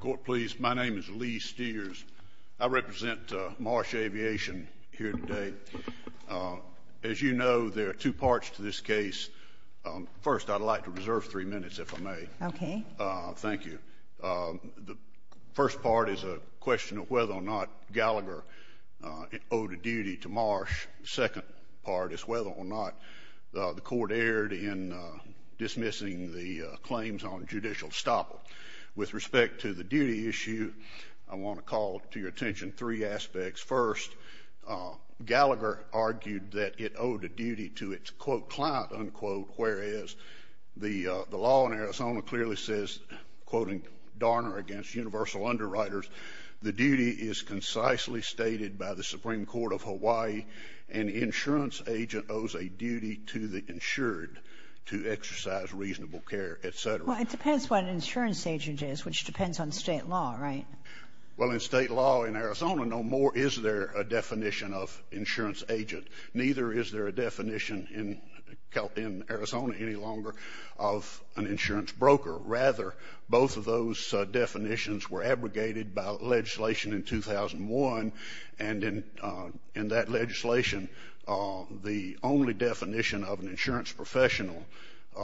Court, please. My name is Lee Steers. I represent Marsh Aviation here today. As you know, there are two parts to this case. First, I'd like to reserve three minutes, if I may. Okay. Thank you. The first part is a question of whether or not Gallagher owed a duty to Marsh. The second part is whether or not the court erred in dismissing the claims on judicial stoppage. With respect to the duty issue, I want to call to your attention three aspects. First, Gallagher argued that it owed a duty to its, quote, client, unquote, whereas the law in Arizona clearly says, quote, in Darner v. Universal Underwriters, the duty is concisely stated by the Supreme Court of Hawaii, an insurance agent owes a duty to the insured to exercise reasonable care, etc. Well, it depends what an insurance agent is, which depends on state law, right? Well, in state law in Arizona, no more is there a definition of insurance agent. Neither is there a definition in Arizona any longer of an insurance broker. Rather, both of those definitions were abrogated by legislation in 2001, and in that legislation, the only definition of an insurance professional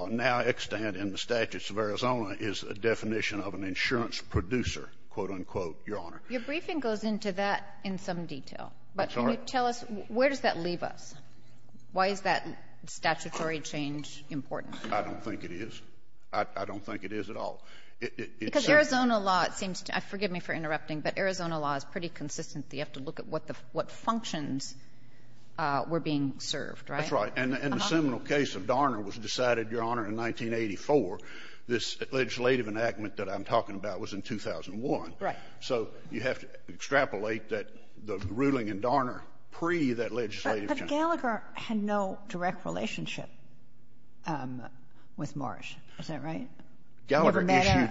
now extant in the statutes of Arizona is a definition of an insurance producer, quote, unquote, Your Honor. Your briefing goes into that in some detail. I'm sorry? Can you tell us, where does that leave us? Why is that statutory change important? I don't think it is. I don't think it is at all. Because Arizona law, it seems to be, forgive me for interrupting, but Arizona law is pretty consistent. You have to look at what functions were being served, right? That's right. And the seminal case of Darner was decided, Your Honor, in 1984. This legislative enactment that I'm talking about was in 2001. Right. So you have to extrapolate that the ruling in Darner pre that legislative change. But Gallagher had no direct relationship with Marsh. Is that right? Gallagher issued.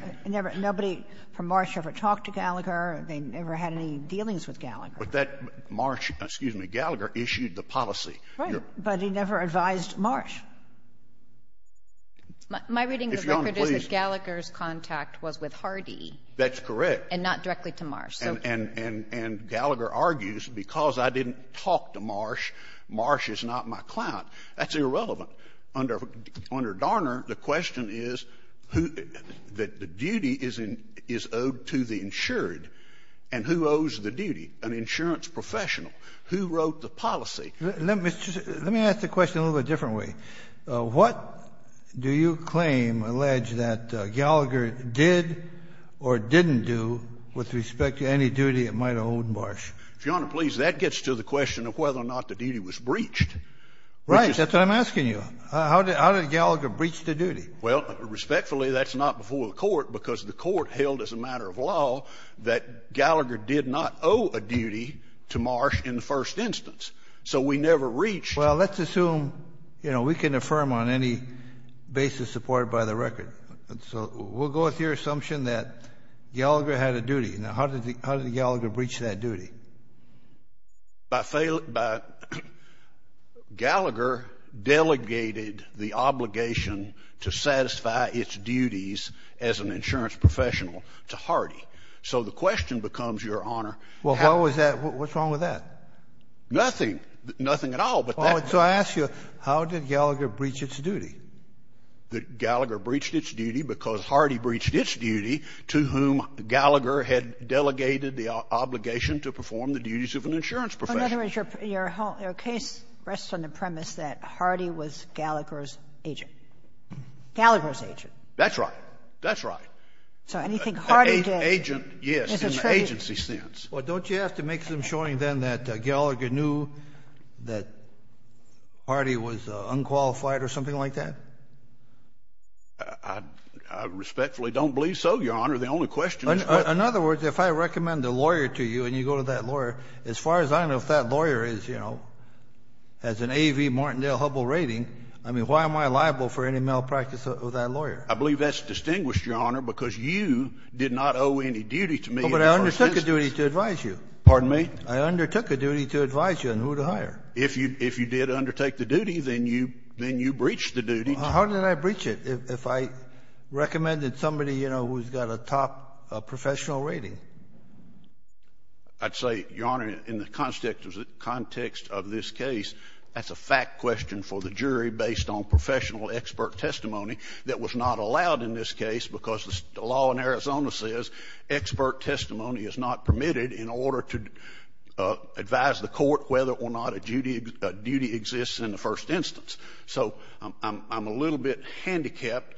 Nobody from Marsh ever talked to Gallagher. They never had any dealings with Gallagher. But that Marsh, excuse me, Gallagher issued the policy. Right. But he never advised Marsh. My reading of the record is that Gallagher's contact was with Hardy. That's correct. And not directly to Marsh. And Gallagher argues, because I didn't talk to Marsh, Marsh is not my client. That's irrelevant. Under Darner, the question is who the duty is owed to the insured. And who owes the duty? An insurance professional. Who wrote the policy? Let me ask the question a little bit different way. What do you claim, allege, that Gallagher did or didn't do with respect to any duty it might have owed Marsh? Your Honor, please, that gets to the question of whether or not the duty was breached. Right. That's what I'm asking you. How did Gallagher breach the duty? Well, respectfully, that's not before the Court, because the Court held as a matter of law that Gallagher did not owe a duty to Marsh in the first instance. So we never reached. Well, let's assume, you know, we can affirm on any basis supported by the record. So we'll go with your assumption that Gallagher had a duty. Now, how did Gallagher breach that duty? Gallagher delegated the obligation to satisfy its duties as an insurance professional to Hardy. So the question becomes, Your Honor, how? Well, what was that? What's wrong with that? Nothing. Nothing at all. So I ask you, how did Gallagher breach its duty? Gallagher breached its duty because Hardy breached its duty to whom Gallagher had delegated the obligation to perform the duties of an insurance professional. Your case rests on the premise that Hardy was Gallagher's agent. Gallagher's agent. That's right. That's right. So anything Hardy did is a tragedy. Agent, yes, in the agency sense. Well, don't you have to make some showing then that Gallagher knew that Hardy was unqualified or something like that? I respectfully don't believe so, Your Honor. The only question is what – In other words, if I recommend a lawyer to you and you go to that lawyer, as far as I know if that lawyer is, you know, has an A.V. Martindale-Hubbell rating, I mean, why am I liable for any malpractice of that lawyer? I believe that's distinguished, Your Honor, because you did not owe any duty to me. No, but I undertook a duty to advise you. Pardon me? I undertook a duty to advise you on who to hire. If you did undertake the duty, then you breached the duty. How did I breach it? If I recommended somebody, you know, who's got a top professional rating? I'd say, Your Honor, in the context of this case, that's a fact question for the jury based on professional expert testimony that was not allowed in this case because the law in Arizona says expert testimony is not permitted in order to advise the court whether or not a duty exists in the first instance. So I'm a little bit handicapped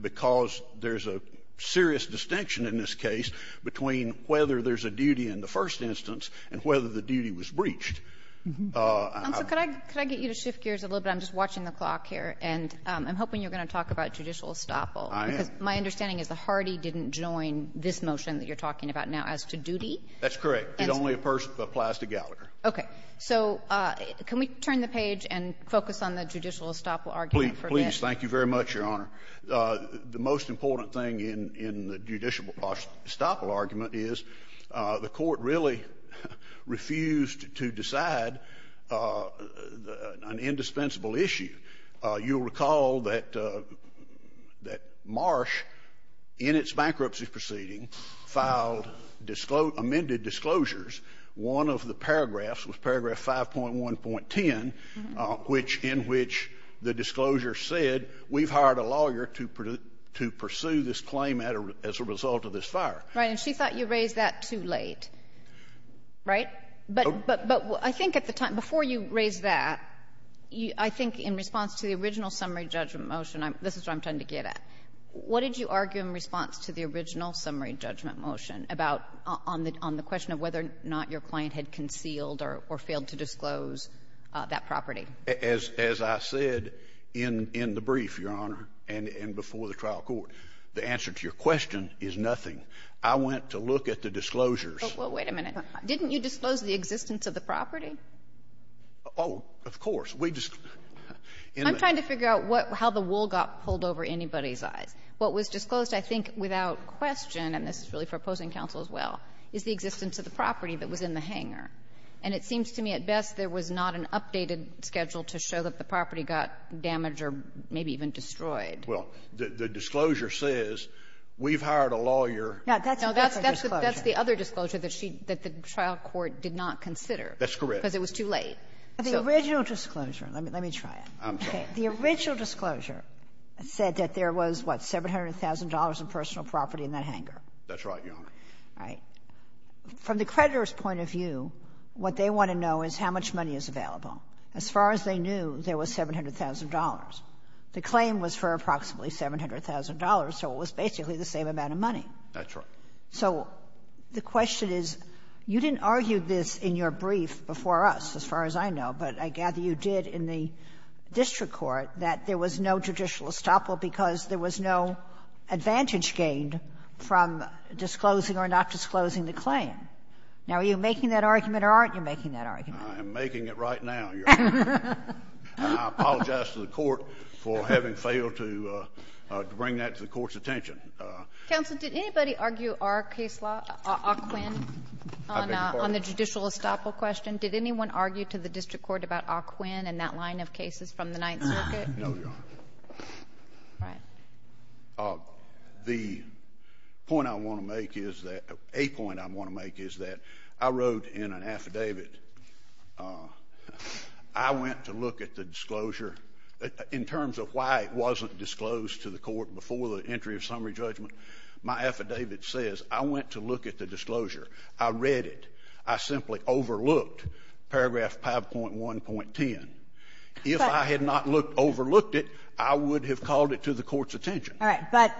because there's a serious distinction in this case between whether there's a duty in the first instance and whether the duty was breached. And so could I get you to shift gears a little bit? I'm just watching the clock here. And I'm hoping you're going to talk about judicial estoppel. Because my understanding is that Hardy didn't join this motion that you're talking about now as to duty. That's correct. It only applies to Gallagher. Okay. So can we turn the page and focus on the judicial estoppel argument for this? Please. Thank you very much, Your Honor. The most important thing in the judicial estoppel argument is the court really refused to decide an indispensable issue. You'll recall that Marsh, in its bankruptcy proceeding, filed amended disclosures. One of the paragraphs was paragraph 5.1.10, which in which the disclosure said, we've hired a lawyer to pursue this claim as a result of this fire. Right. And she thought you raised that too late. Right? But I think at the time, before you raised that, I think in response to the original summary judgment motion, this is where I'm trying to get at, what did you argue in response to the original summary judgment motion about on the question of whether or not your client had concealed or failed to disclose that property? As I said in the brief, Your Honor, and before the trial court, the answer to your question is nothing. I went to look at the disclosures. Well, wait a minute. Didn't you disclose the existence of the property? Oh, of course. We just ---- I'm trying to figure out how the wool got pulled over anybody's eyes. What was disclosed, I think, without question, and this is really for opposing counsel as well, is the existence of the property that was in the hangar. And it seems to me at best there was not an updated schedule to show that the property got damaged or maybe even destroyed. Well, the disclosure says, we've hired a lawyer ---- No, that's a different disclosure. That the trial court did not consider. That's correct. Because it was too late. The original disclosure, let me try it. I'm sorry. The original disclosure said that there was, what, $700,000 in personal property in that hangar. That's right, Your Honor. All right. From the creditor's point of view, what they want to know is how much money is available. As far as they knew, there was $700,000. The claim was for approximately $700,000, so it was basically the same amount of money. That's right. So the question is, you didn't argue this in your brief before us, as far as I know, but I gather you did in the district court, that there was no judicial estoppel because there was no advantage gained from disclosing or not disclosing the claim. Now, are you making that argument or aren't you making that argument? I am making it right now, Your Honor. I apologize to the Court for having failed to bring that to the Court's attention. Counsel, did anybody argue our case law, Ockwin, on the judicial estoppel question? Did anyone argue to the district court about Ockwin and that line of cases from the Ninth Circuit? No, Your Honor. All right. The point I want to make is that—a point I want to make is that I wrote in an affidavit— I went to look at the disclosure in terms of why it wasn't disclosed to the Court before the entry of summary judgment. My affidavit says I went to look at the disclosure. I read it. I simply overlooked paragraph 5.1.10. If I had not overlooked it, I would have called it to the Court's attention. All right. But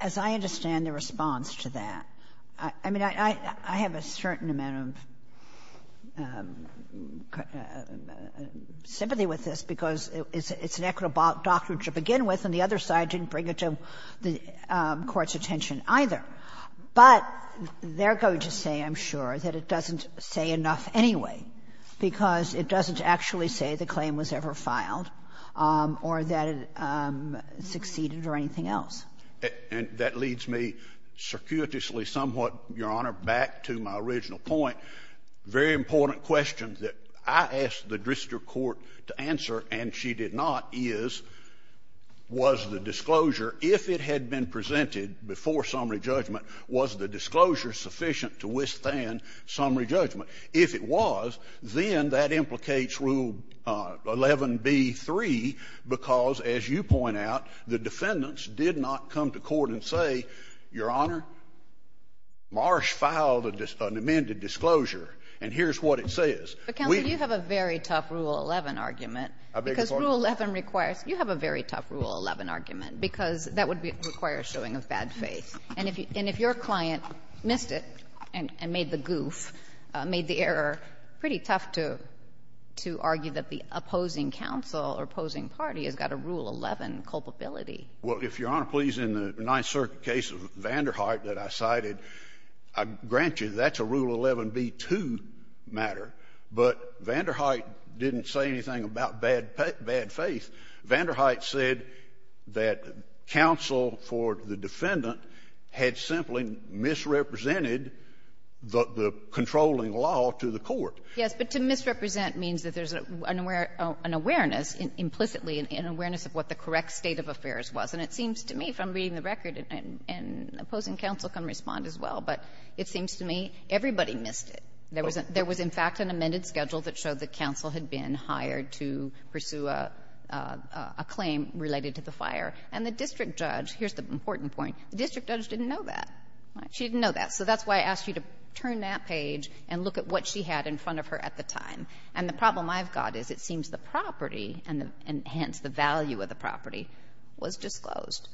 as I understand the response to that, I mean, I have a certain amount of sympathy with this, because it's an equitable doctrine to begin with, and the other side didn't bring it to the Court's attention, either. But they're going to say, I'm sure, that it doesn't say enough anyway, because it doesn't actually say the claim was ever filed or that it succeeded or anything else. And that leads me circuitously somewhat, Your Honor, back to my original point. A very important question that I asked the Drister Court to answer and she did not is, was the disclosure, if it had been presented before summary judgment, was the disclosure sufficient to withstand summary judgment? If it was, then that implicates Rule 11b-3, because, as you point out, the defendants did not come to court and say, Your Honor, Marsh filed an amended disclosure and here's what it says. But, Counsel, you have a very tough Rule 11 argument. I beg your pardon? Because Rule 11 requires — you have a very tough Rule 11 argument, because that would require a showing of bad faith. And if your client missed it and made the goof, made the error, pretty tough to argue that the opposing counsel or opposing party has got a Rule 11 culpability. Well, if Your Honor, please, in the Ninth Circuit case of Vander Hart that I cited, I grant you that's a Rule 11b-2 matter. But Vander Hart didn't say anything about bad faith. Vander Hart said that counsel for the defendant had simply misrepresented the controlling law to the court. Yes. But to misrepresent means that there's an awareness, implicitly an awareness of what the correct state of affairs was. And it seems to me, if I'm reading the record, and opposing counsel can respond as well, but it seems to me everybody missed it. There was in fact an amended schedule that showed that counsel had been hired to pursue a claim related to the fire. And the district judge, here's the important point, the district judge didn't know that. She didn't know that. So that's why I asked you to turn that page and look at what she had in front of her at the time. And the problem I've got is it seems the property, and hence the value of the property, was disclosed.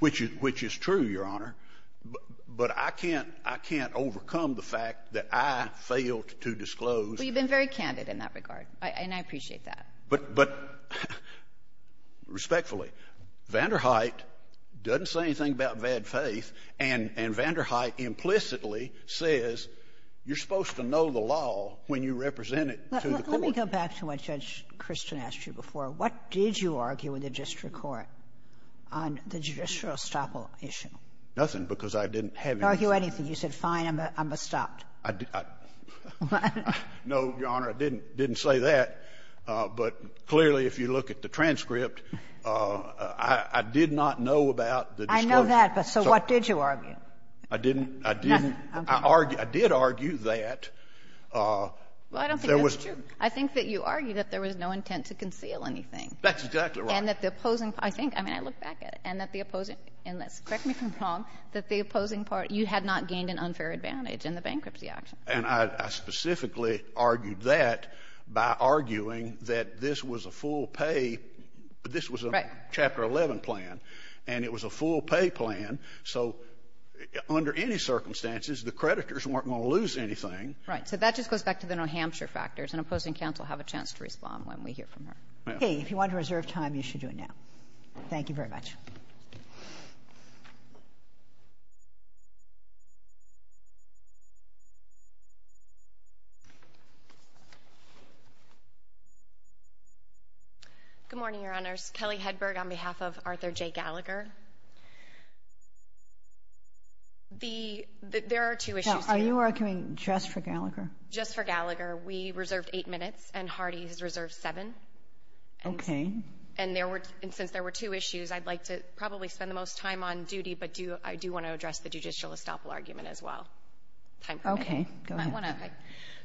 Which is true, Your Honor. But I can't overcome the fact that I failed to disclose. Well, you've been very candid in that regard. And I appreciate that. But respectfully, Vander Hart doesn't say anything about bad faith. And Vander Hart implicitly says you're supposed to know the law when you represent it to the court. Let me go back to what Judge Christian asked you before. What did you argue in the district court on the judicial estoppel issue? Nothing, because I didn't have anything. You didn't argue anything. You said, fine, I'm estopped. I didn't. No, Your Honor, I didn't say that. But clearly, if you look at the transcript, I did not know about the disclosure. I know that, but so what did you argue? I didn't. I didn't. I did argue that there was. Well, I don't think that's true. I think that you argued that there was no intent to conceal anything. That's exactly right. And that the opposing, I think, I mean, I look back at it, and that the opposing and let's correct me if I'm wrong, that the opposing party, you had not gained an unfair advantage in the bankruptcy action. And I specifically argued that by arguing that this was a full pay. This was a Chapter 11 plan. And it was a full pay plan. So under any circumstances, the creditors weren't going to lose anything. Right. So that just goes back to the New Hampshire factors. And opposing counsel have a chance to respond when we hear from her. Okay. If you want to reserve time, you should do it now. Thank you very much. Good morning, Your Honors. Kelly Hedberg on behalf of Arthur J. Gallagher. There are two issues here. Are you arguing just for Gallagher? Just for Gallagher. We reserved eight minutes, and Hardy has reserved seven. Okay. And since there were two issues, I'd like to probably spend the most time on duty, but I do want to address the judicial estoppel argument as well. Okay. Go ahead.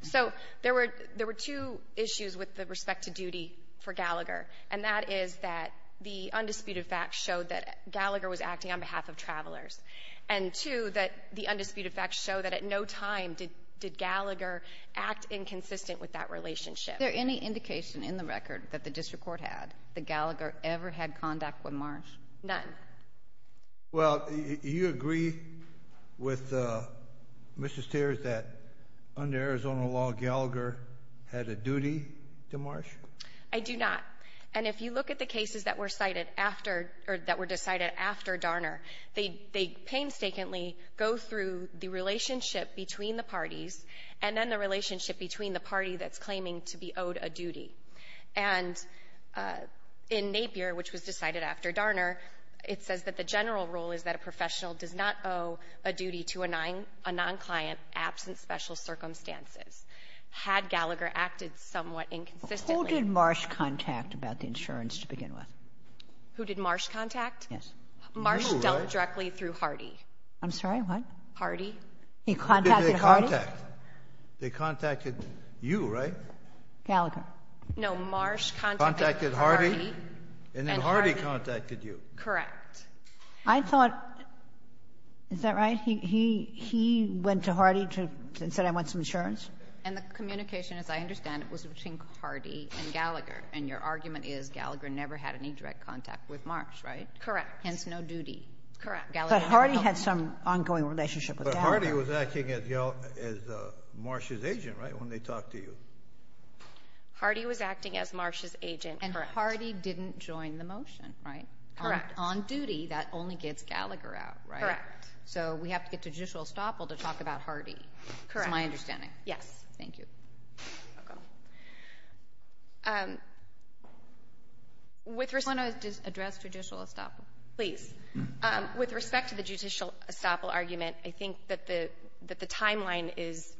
So there were two issues with respect to duty for Gallagher. And that is that the undisputed facts showed that Gallagher was acting on behalf of travelers. And two, that the undisputed facts show that at no time did Gallagher act inconsistent with that relationship. Is there any indication in the record that the district court had that Gallagher ever had contact with Marsh? None. Well, do you agree with Mr. Stairs that under Arizona law, Gallagher had a duty to Marsh? I do not. And if you look at the cases that were cited after, or that were decided after Darner, they painstakingly go through the relationship between the parties, and then the relationship between the party that's claiming to be owed a duty. And in Napier, which was decided after Darner, it says that the general rule is that a professional does not owe a duty to a non- client absent special circumstances. Had Gallagher acted somewhat inconsistently. Who did Marsh contact about the insurance to begin with? Who did Marsh contact? Yes. Marsh dealt directly through Hardy. I'm sorry, what? Hardy. He contacted Hardy? Who did they contact? They contacted you, right? Gallagher. No, Marsh contacted Hardy. And then Hardy contacted you. Correct. I thought, is that right? He went to Hardy and said, I want some insurance? And the communication, as I understand it, was between Hardy and Gallagher. And your argument is Gallagher never had any direct contact with Marsh, right? Correct. Hence, no duty. Correct. But Hardy had some ongoing relationship with Gallagher. But Hardy was acting as Marsh's agent, right, when they talked to you? Hardy was acting as Marsh's agent. And Hardy didn't join the motion, right? Correct. On duty, that only gets Gallagher out, right? Correct. So we have to get to judicial estoppel to talk about Hardy. Correct. It's my understanding. Yes. Thank you. You're welcome. I want to address judicial estoppel. Please. With respect to the judicial estoppel argument, I think that the timeline is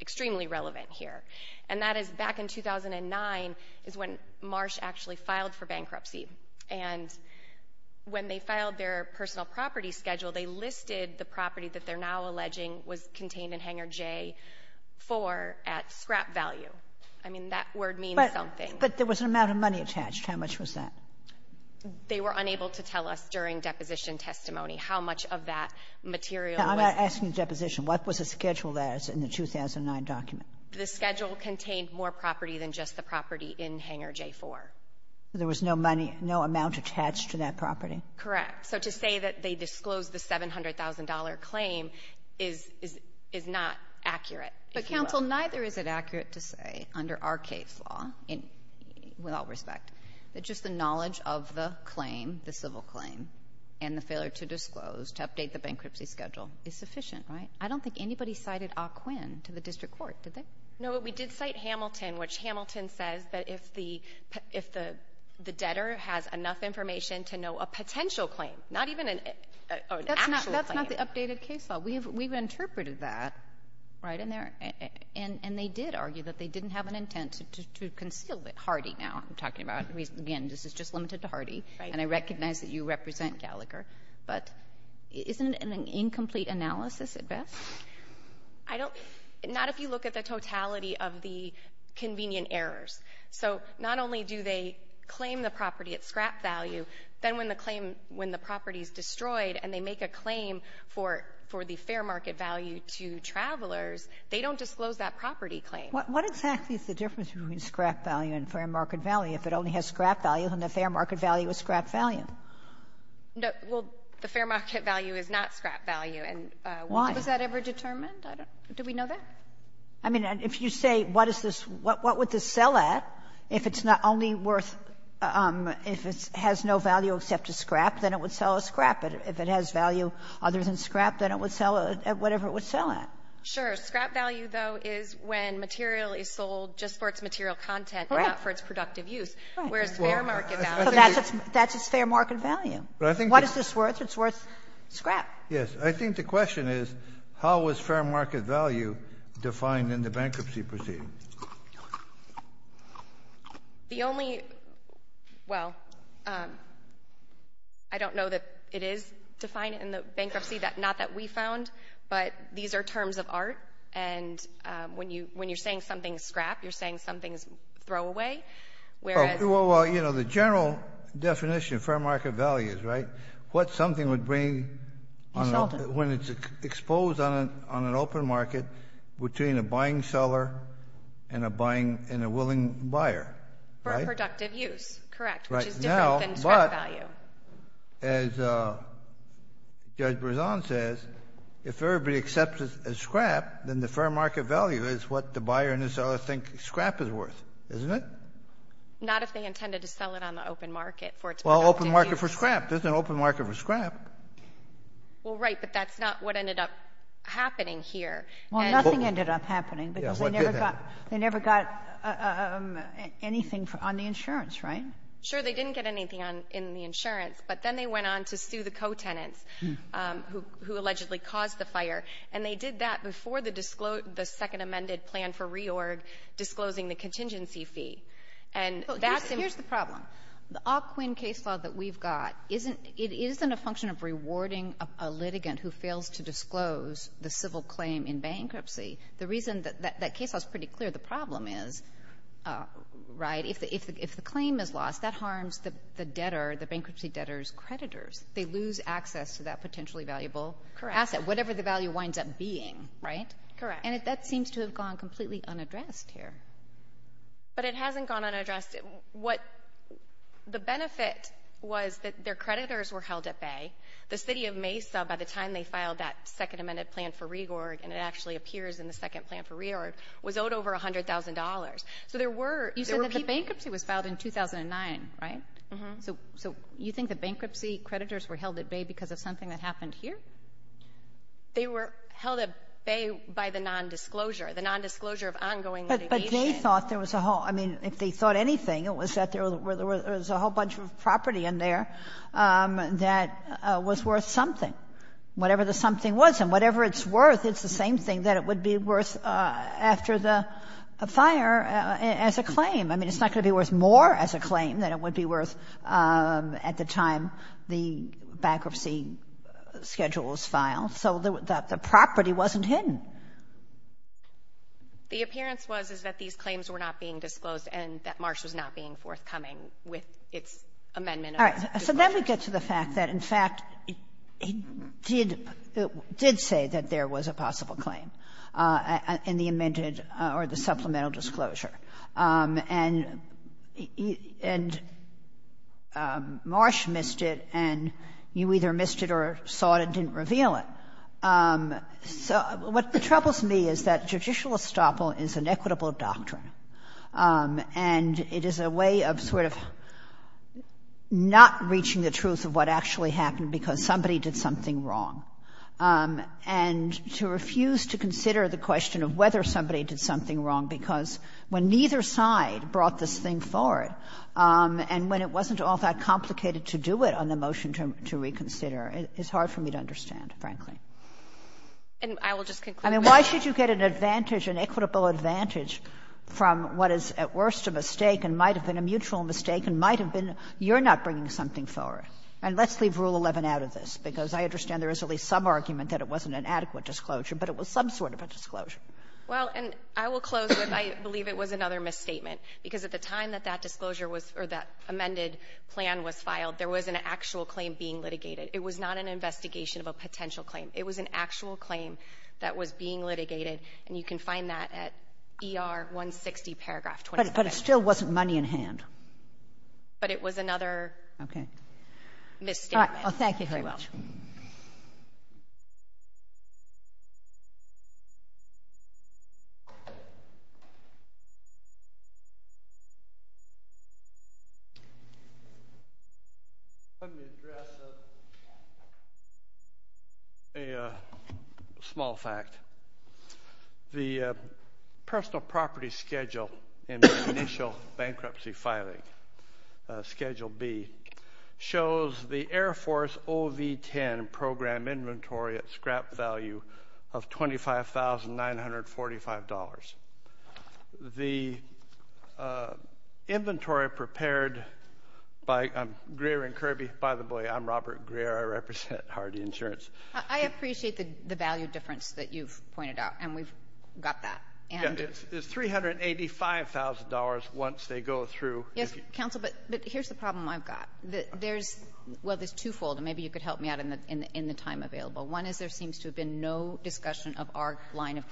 extremely relevant here. And that is back in 2009 is when Marsh actually filed for bankruptcy. And when they filed their personal property schedule, they listed the property that they're now alleging was contained in Hangar J-4 at scrap value. I mean, that word means something. But there was an amount of money attached. How much was that? They were unable to tell us during deposition testimony how much of that material was. I'm not asking deposition. What was the schedule there in the 2009 document? The schedule contained more property than just the property in Hangar J-4. There was no money, no amount attached to that property? Correct. So to say that they disclosed the $700,000 claim is not accurate. But, counsel, neither is it accurate to say under our case law, with all respect, that just the knowledge of the claim, the civil claim, and the failure to disclose to update the bankruptcy schedule is sufficient, right? I don't think anybody cited Ah Quinn to the district court, did they? No, but we did cite Hamilton, which Hamilton says that if the debtor has enough information then to know a potential claim, not even an actual claim. That's not the updated case law. We've interpreted that, right? And they did argue that they didn't have an intent to conceal it. Hardy, now, I'm talking about. Again, this is just limited to Hardy, and I recognize that you represent Gallagher. But isn't it an incomplete analysis at best? Not if you look at the totality of the convenient errors. So not only do they claim the property at scrap value, then when the claim, when the property is destroyed and they make a claim for the fair market value to travelers, they don't disclose that property claim. What exactly is the difference between scrap value and fair market value? If it only has scrap value, then the fair market value is scrap value. Well, the fair market value is not scrap value. Why? Was that ever determined? Do we know that? I mean, if you say what is this, what would this sell at if it's not only worth, if it has no value except to scrap, then it would sell as scrap. If it has value other than scrap, then it would sell at whatever it would sell at. Sure. Scrap value, though, is when material is sold just for its material content, not for its productive use, whereas fair market value. That's its fair market value. What is this worth? It's worth scrap. Yes. I think the question is how is fair market value defined in the bankruptcy proceeding? The only, well, I don't know that it is defined in the bankruptcy, not that we found, but these are terms of art, and when you're saying something is scrap, you're saying something is throwaway. Well, you know, the general definition of fair market value is, right, what something would bring when it's exposed on an open market between a buying seller and a willing buyer, right? For productive use, correct, which is different than scrap value. Right. Now, but as Judge Berzon says, if everybody accepts it as scrap, then the fair market value is what the buyer and the seller think scrap is worth, isn't it? Not if they intended to sell it on the open market for its productive use. Well, open market for scrap. There's an open market for scrap. Well, right, but that's not what ended up happening here. Well, nothing ended up happening because they never got anything on the insurance, right? Sure, they didn't get anything in the insurance, but then they went on to sue the co-tenants who allegedly caused the fire, and they did that before the second amended plan for RE-ORG disclosing the contingency fee. Here's the problem. The op-quin case law that we've got, it isn't a function of rewarding a litigant who fails to disclose the civil claim in bankruptcy. The reason that that case law is pretty clear, the problem is, right, if the claim is lost, that harms the debtor, the bankruptcy debtor's creditors. They lose access to that potentially valuable asset, whatever the value winds up being, right? Correct. And that seems to have gone completely unaddressed here. But it hasn't gone unaddressed. The benefit was that their creditors were held at bay. The city of Mesa, by the time they filed that second amended plan for RE-ORG, and it actually appears in the second plan for RE-ORG, was owed over $100,000. So there were people. You said that the bankruptcy was filed in 2009, right? Mm-hmm. So you think the bankruptcy creditors were held at bay because of something that happened here? They were held at bay by the nondisclosure, the nondisclosure of ongoing litigation. If they thought there was a whole, I mean, if they thought anything, it was that there was a whole bunch of property in there that was worth something. Whatever the something was, and whatever it's worth, it's the same thing that it would be worth after the fire as a claim. I mean, it's not going to be worth more as a claim than it would be worth at the time the bankruptcy schedule was filed. So the property wasn't hidden. The appearance was, is that these claims were not being disclosed and that Marsh was not being forthcoming with its amendment of the disclosure. All right. So then we get to the fact that, in fact, it did say that there was a possible claim in the amended or the supplemental disclosure. And Marsh missed it, and you either missed it or saw it and didn't reveal it. So what troubles me is that judicial estoppel is an equitable doctrine, and it is a way of sort of not reaching the truth of what actually happened because somebody did something wrong, and to refuse to consider the question of whether somebody did something wrong because when neither side brought this thing forward and when it wasn't all that complicated to do it on the motion to reconsider, it's hard for me to understand, frankly. And I will just conclude. I mean, why should you get an advantage, an equitable advantage, from what is at worst a mistake and might have been a mutual mistake and might have been you're not bringing something forward? And let's leave Rule 11 out of this, because I understand there is at least some argument that it wasn't an adequate disclosure, but it was some sort of a disclosure. Well, and I will close with I believe it was another misstatement, because at the time that that disclosure was or that amended plan was filed, there was an actual claim being litigated. It was not an investigation of a potential claim. It was an actual claim that was being litigated, and you can find that at ER 160, paragraph 25. But it still wasn't money in hand. But it was another misstatement. All right. Well, thank you very much. Let me address a small fact. The personal property schedule in the initial bankruptcy filing, Schedule B, shows the Air Force OV-10 program inventory at scrap value of $25,945. The inventory prepared by Greer and Kirby, by the way, I'm Robert Greer. I represent Hardy Insurance. I appreciate the value difference that you've pointed out, and we've got that. And it's $385,000 once they go through. Yes, Counsel, but here's the problem I've got. There's, well, there's twofold, and maybe you could help me out in the time available. One is there seems to have been no discussion of our line of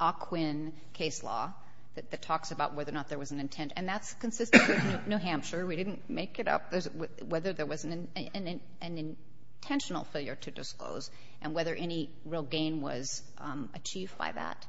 OQIN case law that talks about whether or not there was an intent. And that's consistent with New Hampshire. We didn't make it up whether there was an intentional failure to disclose and whether any real gain was achieved by that.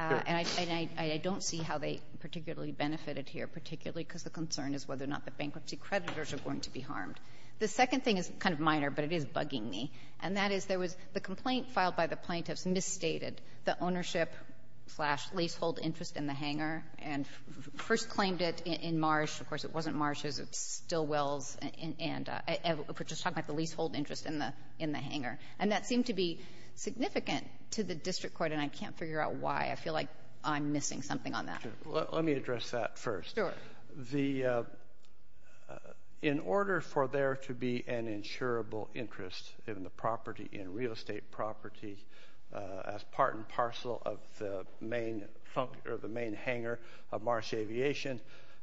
And I don't see how they particularly benefited here, particularly because the concern is whether or not the bankruptcy creditors are going to be harmed. The second thing is kind of minor, but it is bugging me. And that is there was the complaint filed by the plaintiffs misstated the ownership-slash-leasehold interest in the hangar and first claimed it in Marsh. Of course, it wasn't Marsh's. It was Stillwell's. And we're just talking about the leasehold interest in the hangar. And that seemed to be significant to the district court, and I can't figure out why. I feel like I'm missing something on that. Let me address that first. Sure. In order for there to be an insurable interest in the property, in real estate property, as part and parcel of the main hangar of Marsh Aviation,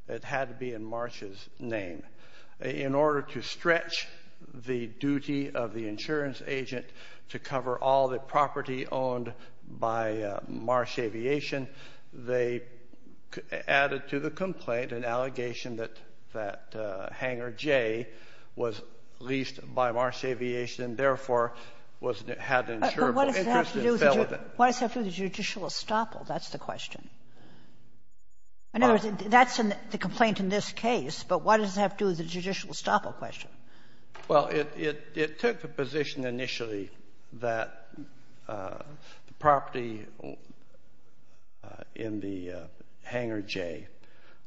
it had to be in Marsh's name. In order to stretch the duty of the insurance agent to cover all the property owned by Marsh Aviation, they added to the complaint an allegation that hangar J was leased by Marsh Aviation and, therefore, had an insurable interest in Sullivan. But what does it have to do with the judicial estoppel? That's the question. In other words, that's the complaint in this case, but what does it have to do with the judicial estoppel question? Well, it took the position initially that the property in the hangar J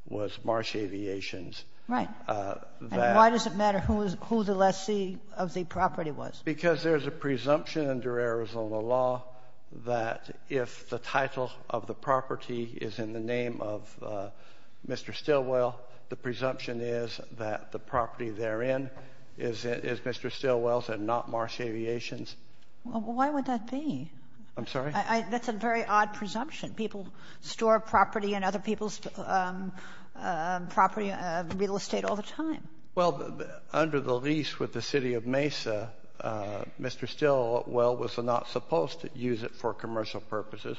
was Marsh Aviation's. Right. And why does it matter who the lessee of the property was? Because there's a presumption under Arizona law that if the title of the property is in the name of Mr. Stilwell, the presumption is that the property therein is Mr. Stilwell's and not Marsh Aviation's. Why would that be? I'm sorry? That's a very odd presumption. People store property in other people's property, real estate, all the time. Well, under the lease with the city of Mesa, Mr. Stilwell was not supposed to use it for commercial purposes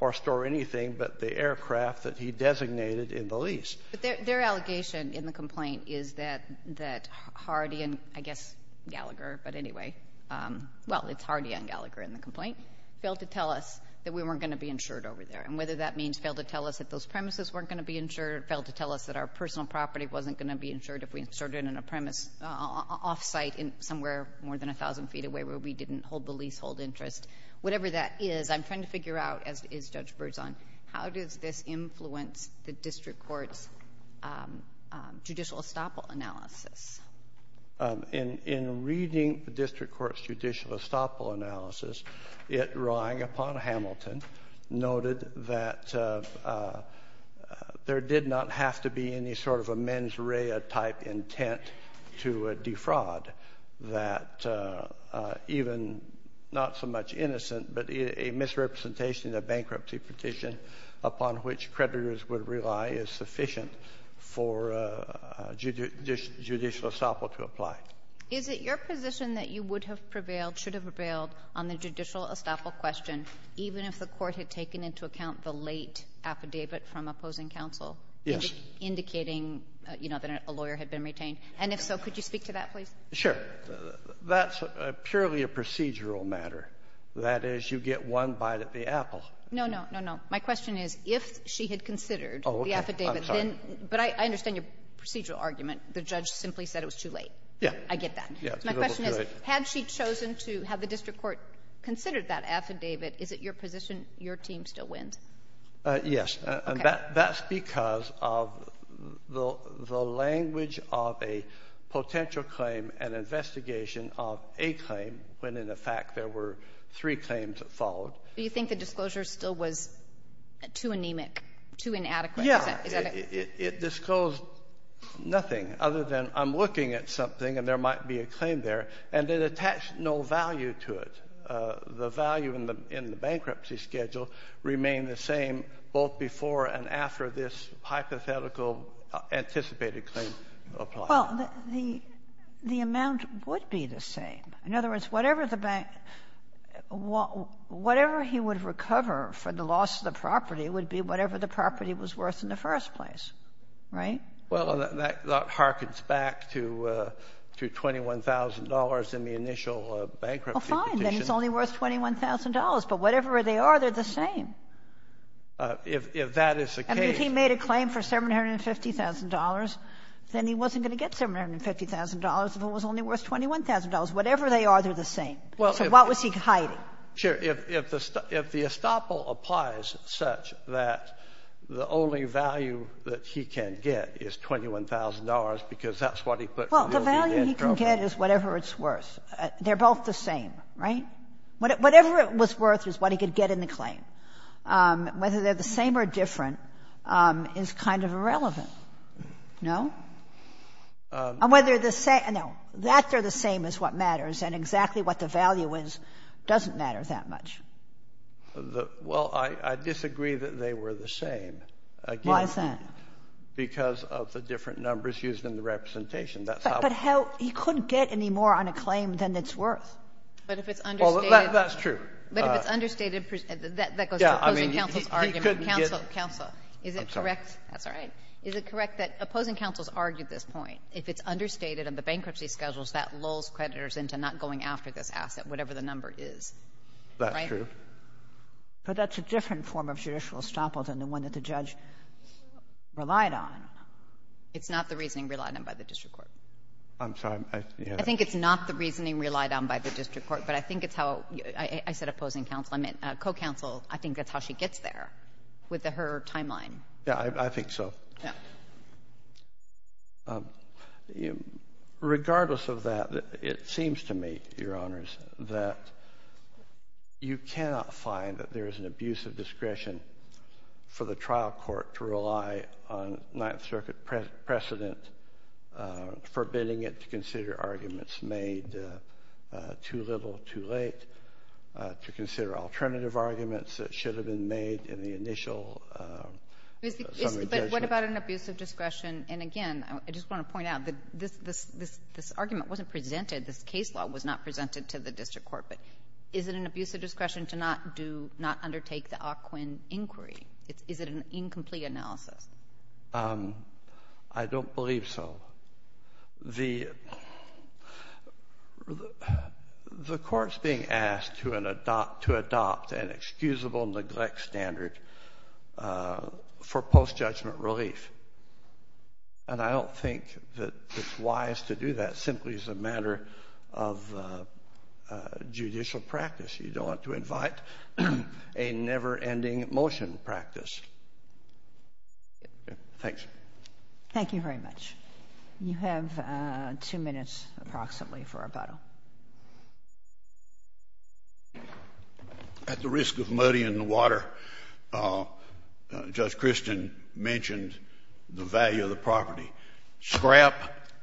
or store anything but the aircraft that he designated in the lease. But their allegation in the complaint is that Hardy and, I guess, Gallagher, but anyway, well, it's Hardy and Gallagher in the complaint, failed to tell us that we weren't going to be insured over there. And whether that means failed to tell us that those premises weren't going to be insured or failed to tell us that our personal property wasn't going to be insured if we insured it in a premise off-site somewhere more than 1,000 feet away where we didn't hold the leasehold interest, whatever that is, I'm trying to figure out, as is Judge Berzon, how does this influence the district court's judicial estoppel analysis? In reading the district court's judicial estoppel analysis, it relying upon Hamilton noted that there did not have to be any sort of a mens rea type intent to defraud that even, not so much innocent, but a misrepresentation of bankruptcy petition upon which creditors would rely is sufficient for judicial estoppel to apply. Is it your position that you would have prevailed, should have prevailed on the judicial estoppel question even if the court had taken into account the late affidavit from opposing counsel? Yes. Indicating, you know, that a lawyer had been retained? And if so, could you speak to that please? Sure. That's purely a procedural matter. That is, you get one bite at the apple. No, no, no, no. My question is, if she had considered the affidavit, then — Oh, okay. I'm sorry. But I understand your procedural argument. The judge simply said it was too late. Yeah. I get that. My question is, had she chosen to have the district court considered that affidavit, is it your position your team still wins? Yes. Okay. That's because of the language of a potential claim and investigation of a claim when, in effect, there were three claims that followed. Do you think the disclosure still was too anemic, too inadequate? Yeah. Is that it? It disclosed nothing other than I'm looking at something and there might be a claim there, and it attached no value to it. The value in the bankruptcy schedule remained the same both before and after this hypothetical anticipated claim applied. Well, the amount would be the same. In other words, whatever the bank — whatever he would recover for the loss of the property would be whatever the property was worth in the first place. Right? Well, that harkens back to $21,000 in the initial bankruptcy petition. Well, fine. Then it's only worth $21,000. But whatever they are, they're the same. If that is the case — I mean, if he made a claim for $750,000, then he wasn't going to get $750,000 if it was only worth $21,000. Whatever they are, they're the same. So what was he hiding? Sure. If the estoppel applies such that the only value that he can get is $21,000 because that's what he put to the OBD program. Well, the value he can get is whatever it's worth. They're both the same. Right? Whatever it was worth is what he could get in the claim. Whether they're the same or different is kind of irrelevant. No? And whether they're the same — no. That they're the same is what matters, and exactly what the value is doesn't matter that much. Well, I disagree that they were the same. Why is that? Because of the different numbers used in the representation. That's how — But how — he couldn't get any more on a claim than it's worth. But if it's understated — Well, that's true. But if it's understated, that goes to opposing counsel's argument. Yeah. I mean, he couldn't get — Counsel. Counsel. Is it correct — I'm sorry. That's all right. Is it correct that opposing counsel's argued this point? If it's understated on the bankruptcy schedules, that lulls creditors into not going after this asset, whatever the number is. That's true. Right? But that's a different form of judicial estoppel than the one that the judge relied on. It's not the reasoning relied on by the district court. I'm sorry. I think it's not the reasoning relied on by the district court, but I think it's how — I said opposing counsel. I think that's how she gets there with her timeline. Yeah, I think so. Yeah. Regardless of that, it seems to me, Your Honors, that you cannot find that there is an abusive discretion for the trial court to rely on Ninth Circuit precedent, forbidding it to consider alternative arguments that should have been made in the initial summary judgment. But what about an abusive discretion? And, again, I just want to point out that this argument wasn't presented, this case law was not presented to the district court, but is it an abusive discretion to not do — not undertake the Ockwin inquiry? Is it an incomplete analysis? I don't believe so. The court's being asked to adopt an excusable neglect standard for post-judgment relief. And I don't think that it's wise to do that simply as a matter of judicial practice. You don't want to invite a never-ending motion practice. Thanks. Thank you very much. You have two minutes approximately for rebuttal. At the risk of muddying the water, Judge Christian mentioned the value of the property. Scrap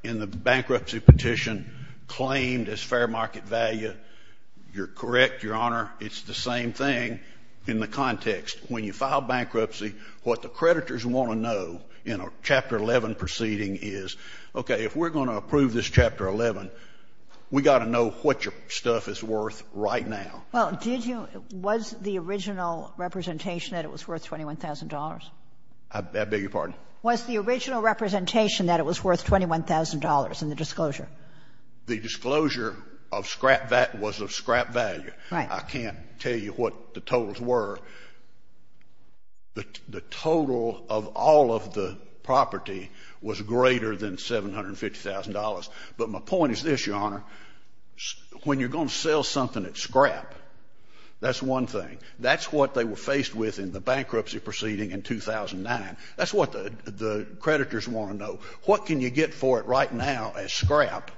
in the bankruptcy petition claimed as fair market value. You're correct, Your Honor. It's the same thing in the context. When you file bankruptcy, what the creditors want to know in a Chapter 11 proceeding is, okay, if we're going to approve this Chapter 11, we've got to know what your stuff is worth right now. Well, did you — was the original representation that it was worth $21,000? I beg your pardon? Was the original representation that it was worth $21,000 in the disclosure? The disclosure of scrap was of scrap value. Right. I can't tell you what the totals were. The total of all of the property was greater than $750,000. But my point is this, Your Honor. When you're going to sell something at scrap, that's one thing. That's what they were faced with in the bankruptcy proceeding in 2009. That's what the creditors want to know. What can you get for it right now as scrap?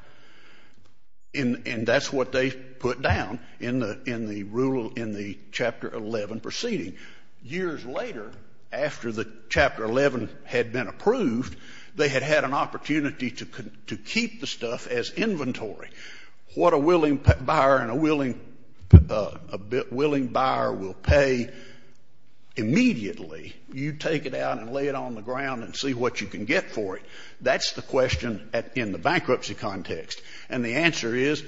And that's what they put down in the rule — in the Chapter 11 proceeding. Years later, after the Chapter 11 had been approved, they had had an opportunity to keep the stuff as inventory. What a willing buyer and a willing — a willing buyer will pay immediately. You take it out and lay it on the ground and see what you can get for it. That's the question in the bankruptcy context. And the answer is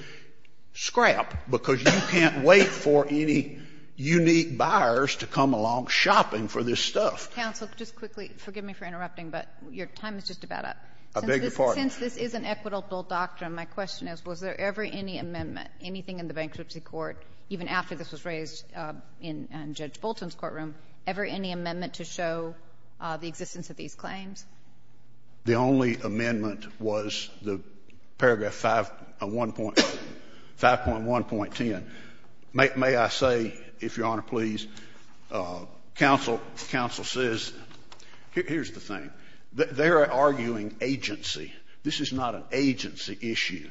scrap, because you can't wait for any unique buyers to come along shopping for this stuff. Counsel, just quickly, forgive me for interrupting, but your time is just about up. I beg your pardon? Since this is an equitable doctrine, my question is, was there ever any amendment, anything in the bankruptcy court, even after this was raised in Judge Bolton's courtroom, ever any amendment to show the existence of these claims? The only amendment was the paragraph 5 — 5.1.10. May I say, if Your Honor please, counsel says — here's the thing. They're arguing agency. This is not an agency issue.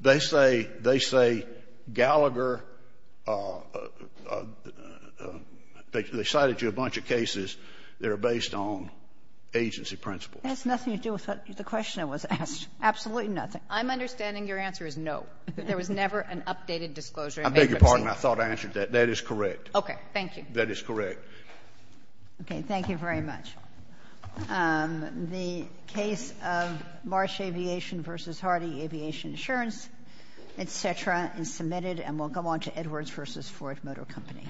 They say Gallagher — they cited you a bunch of cases that are based on agency. That's nothing to do with the question that was asked. Absolutely nothing. I'm understanding your answer is no. There was never an updated disclosure in bankruptcy. I beg your pardon? I thought I answered that. That is correct. Okay. Thank you. That is correct. Okay. Thank you very much. The case of Marsh Aviation v. Hardy Aviation Insurance, et cetera, is submitted and will go on to Edwards v. Ford Motor Company.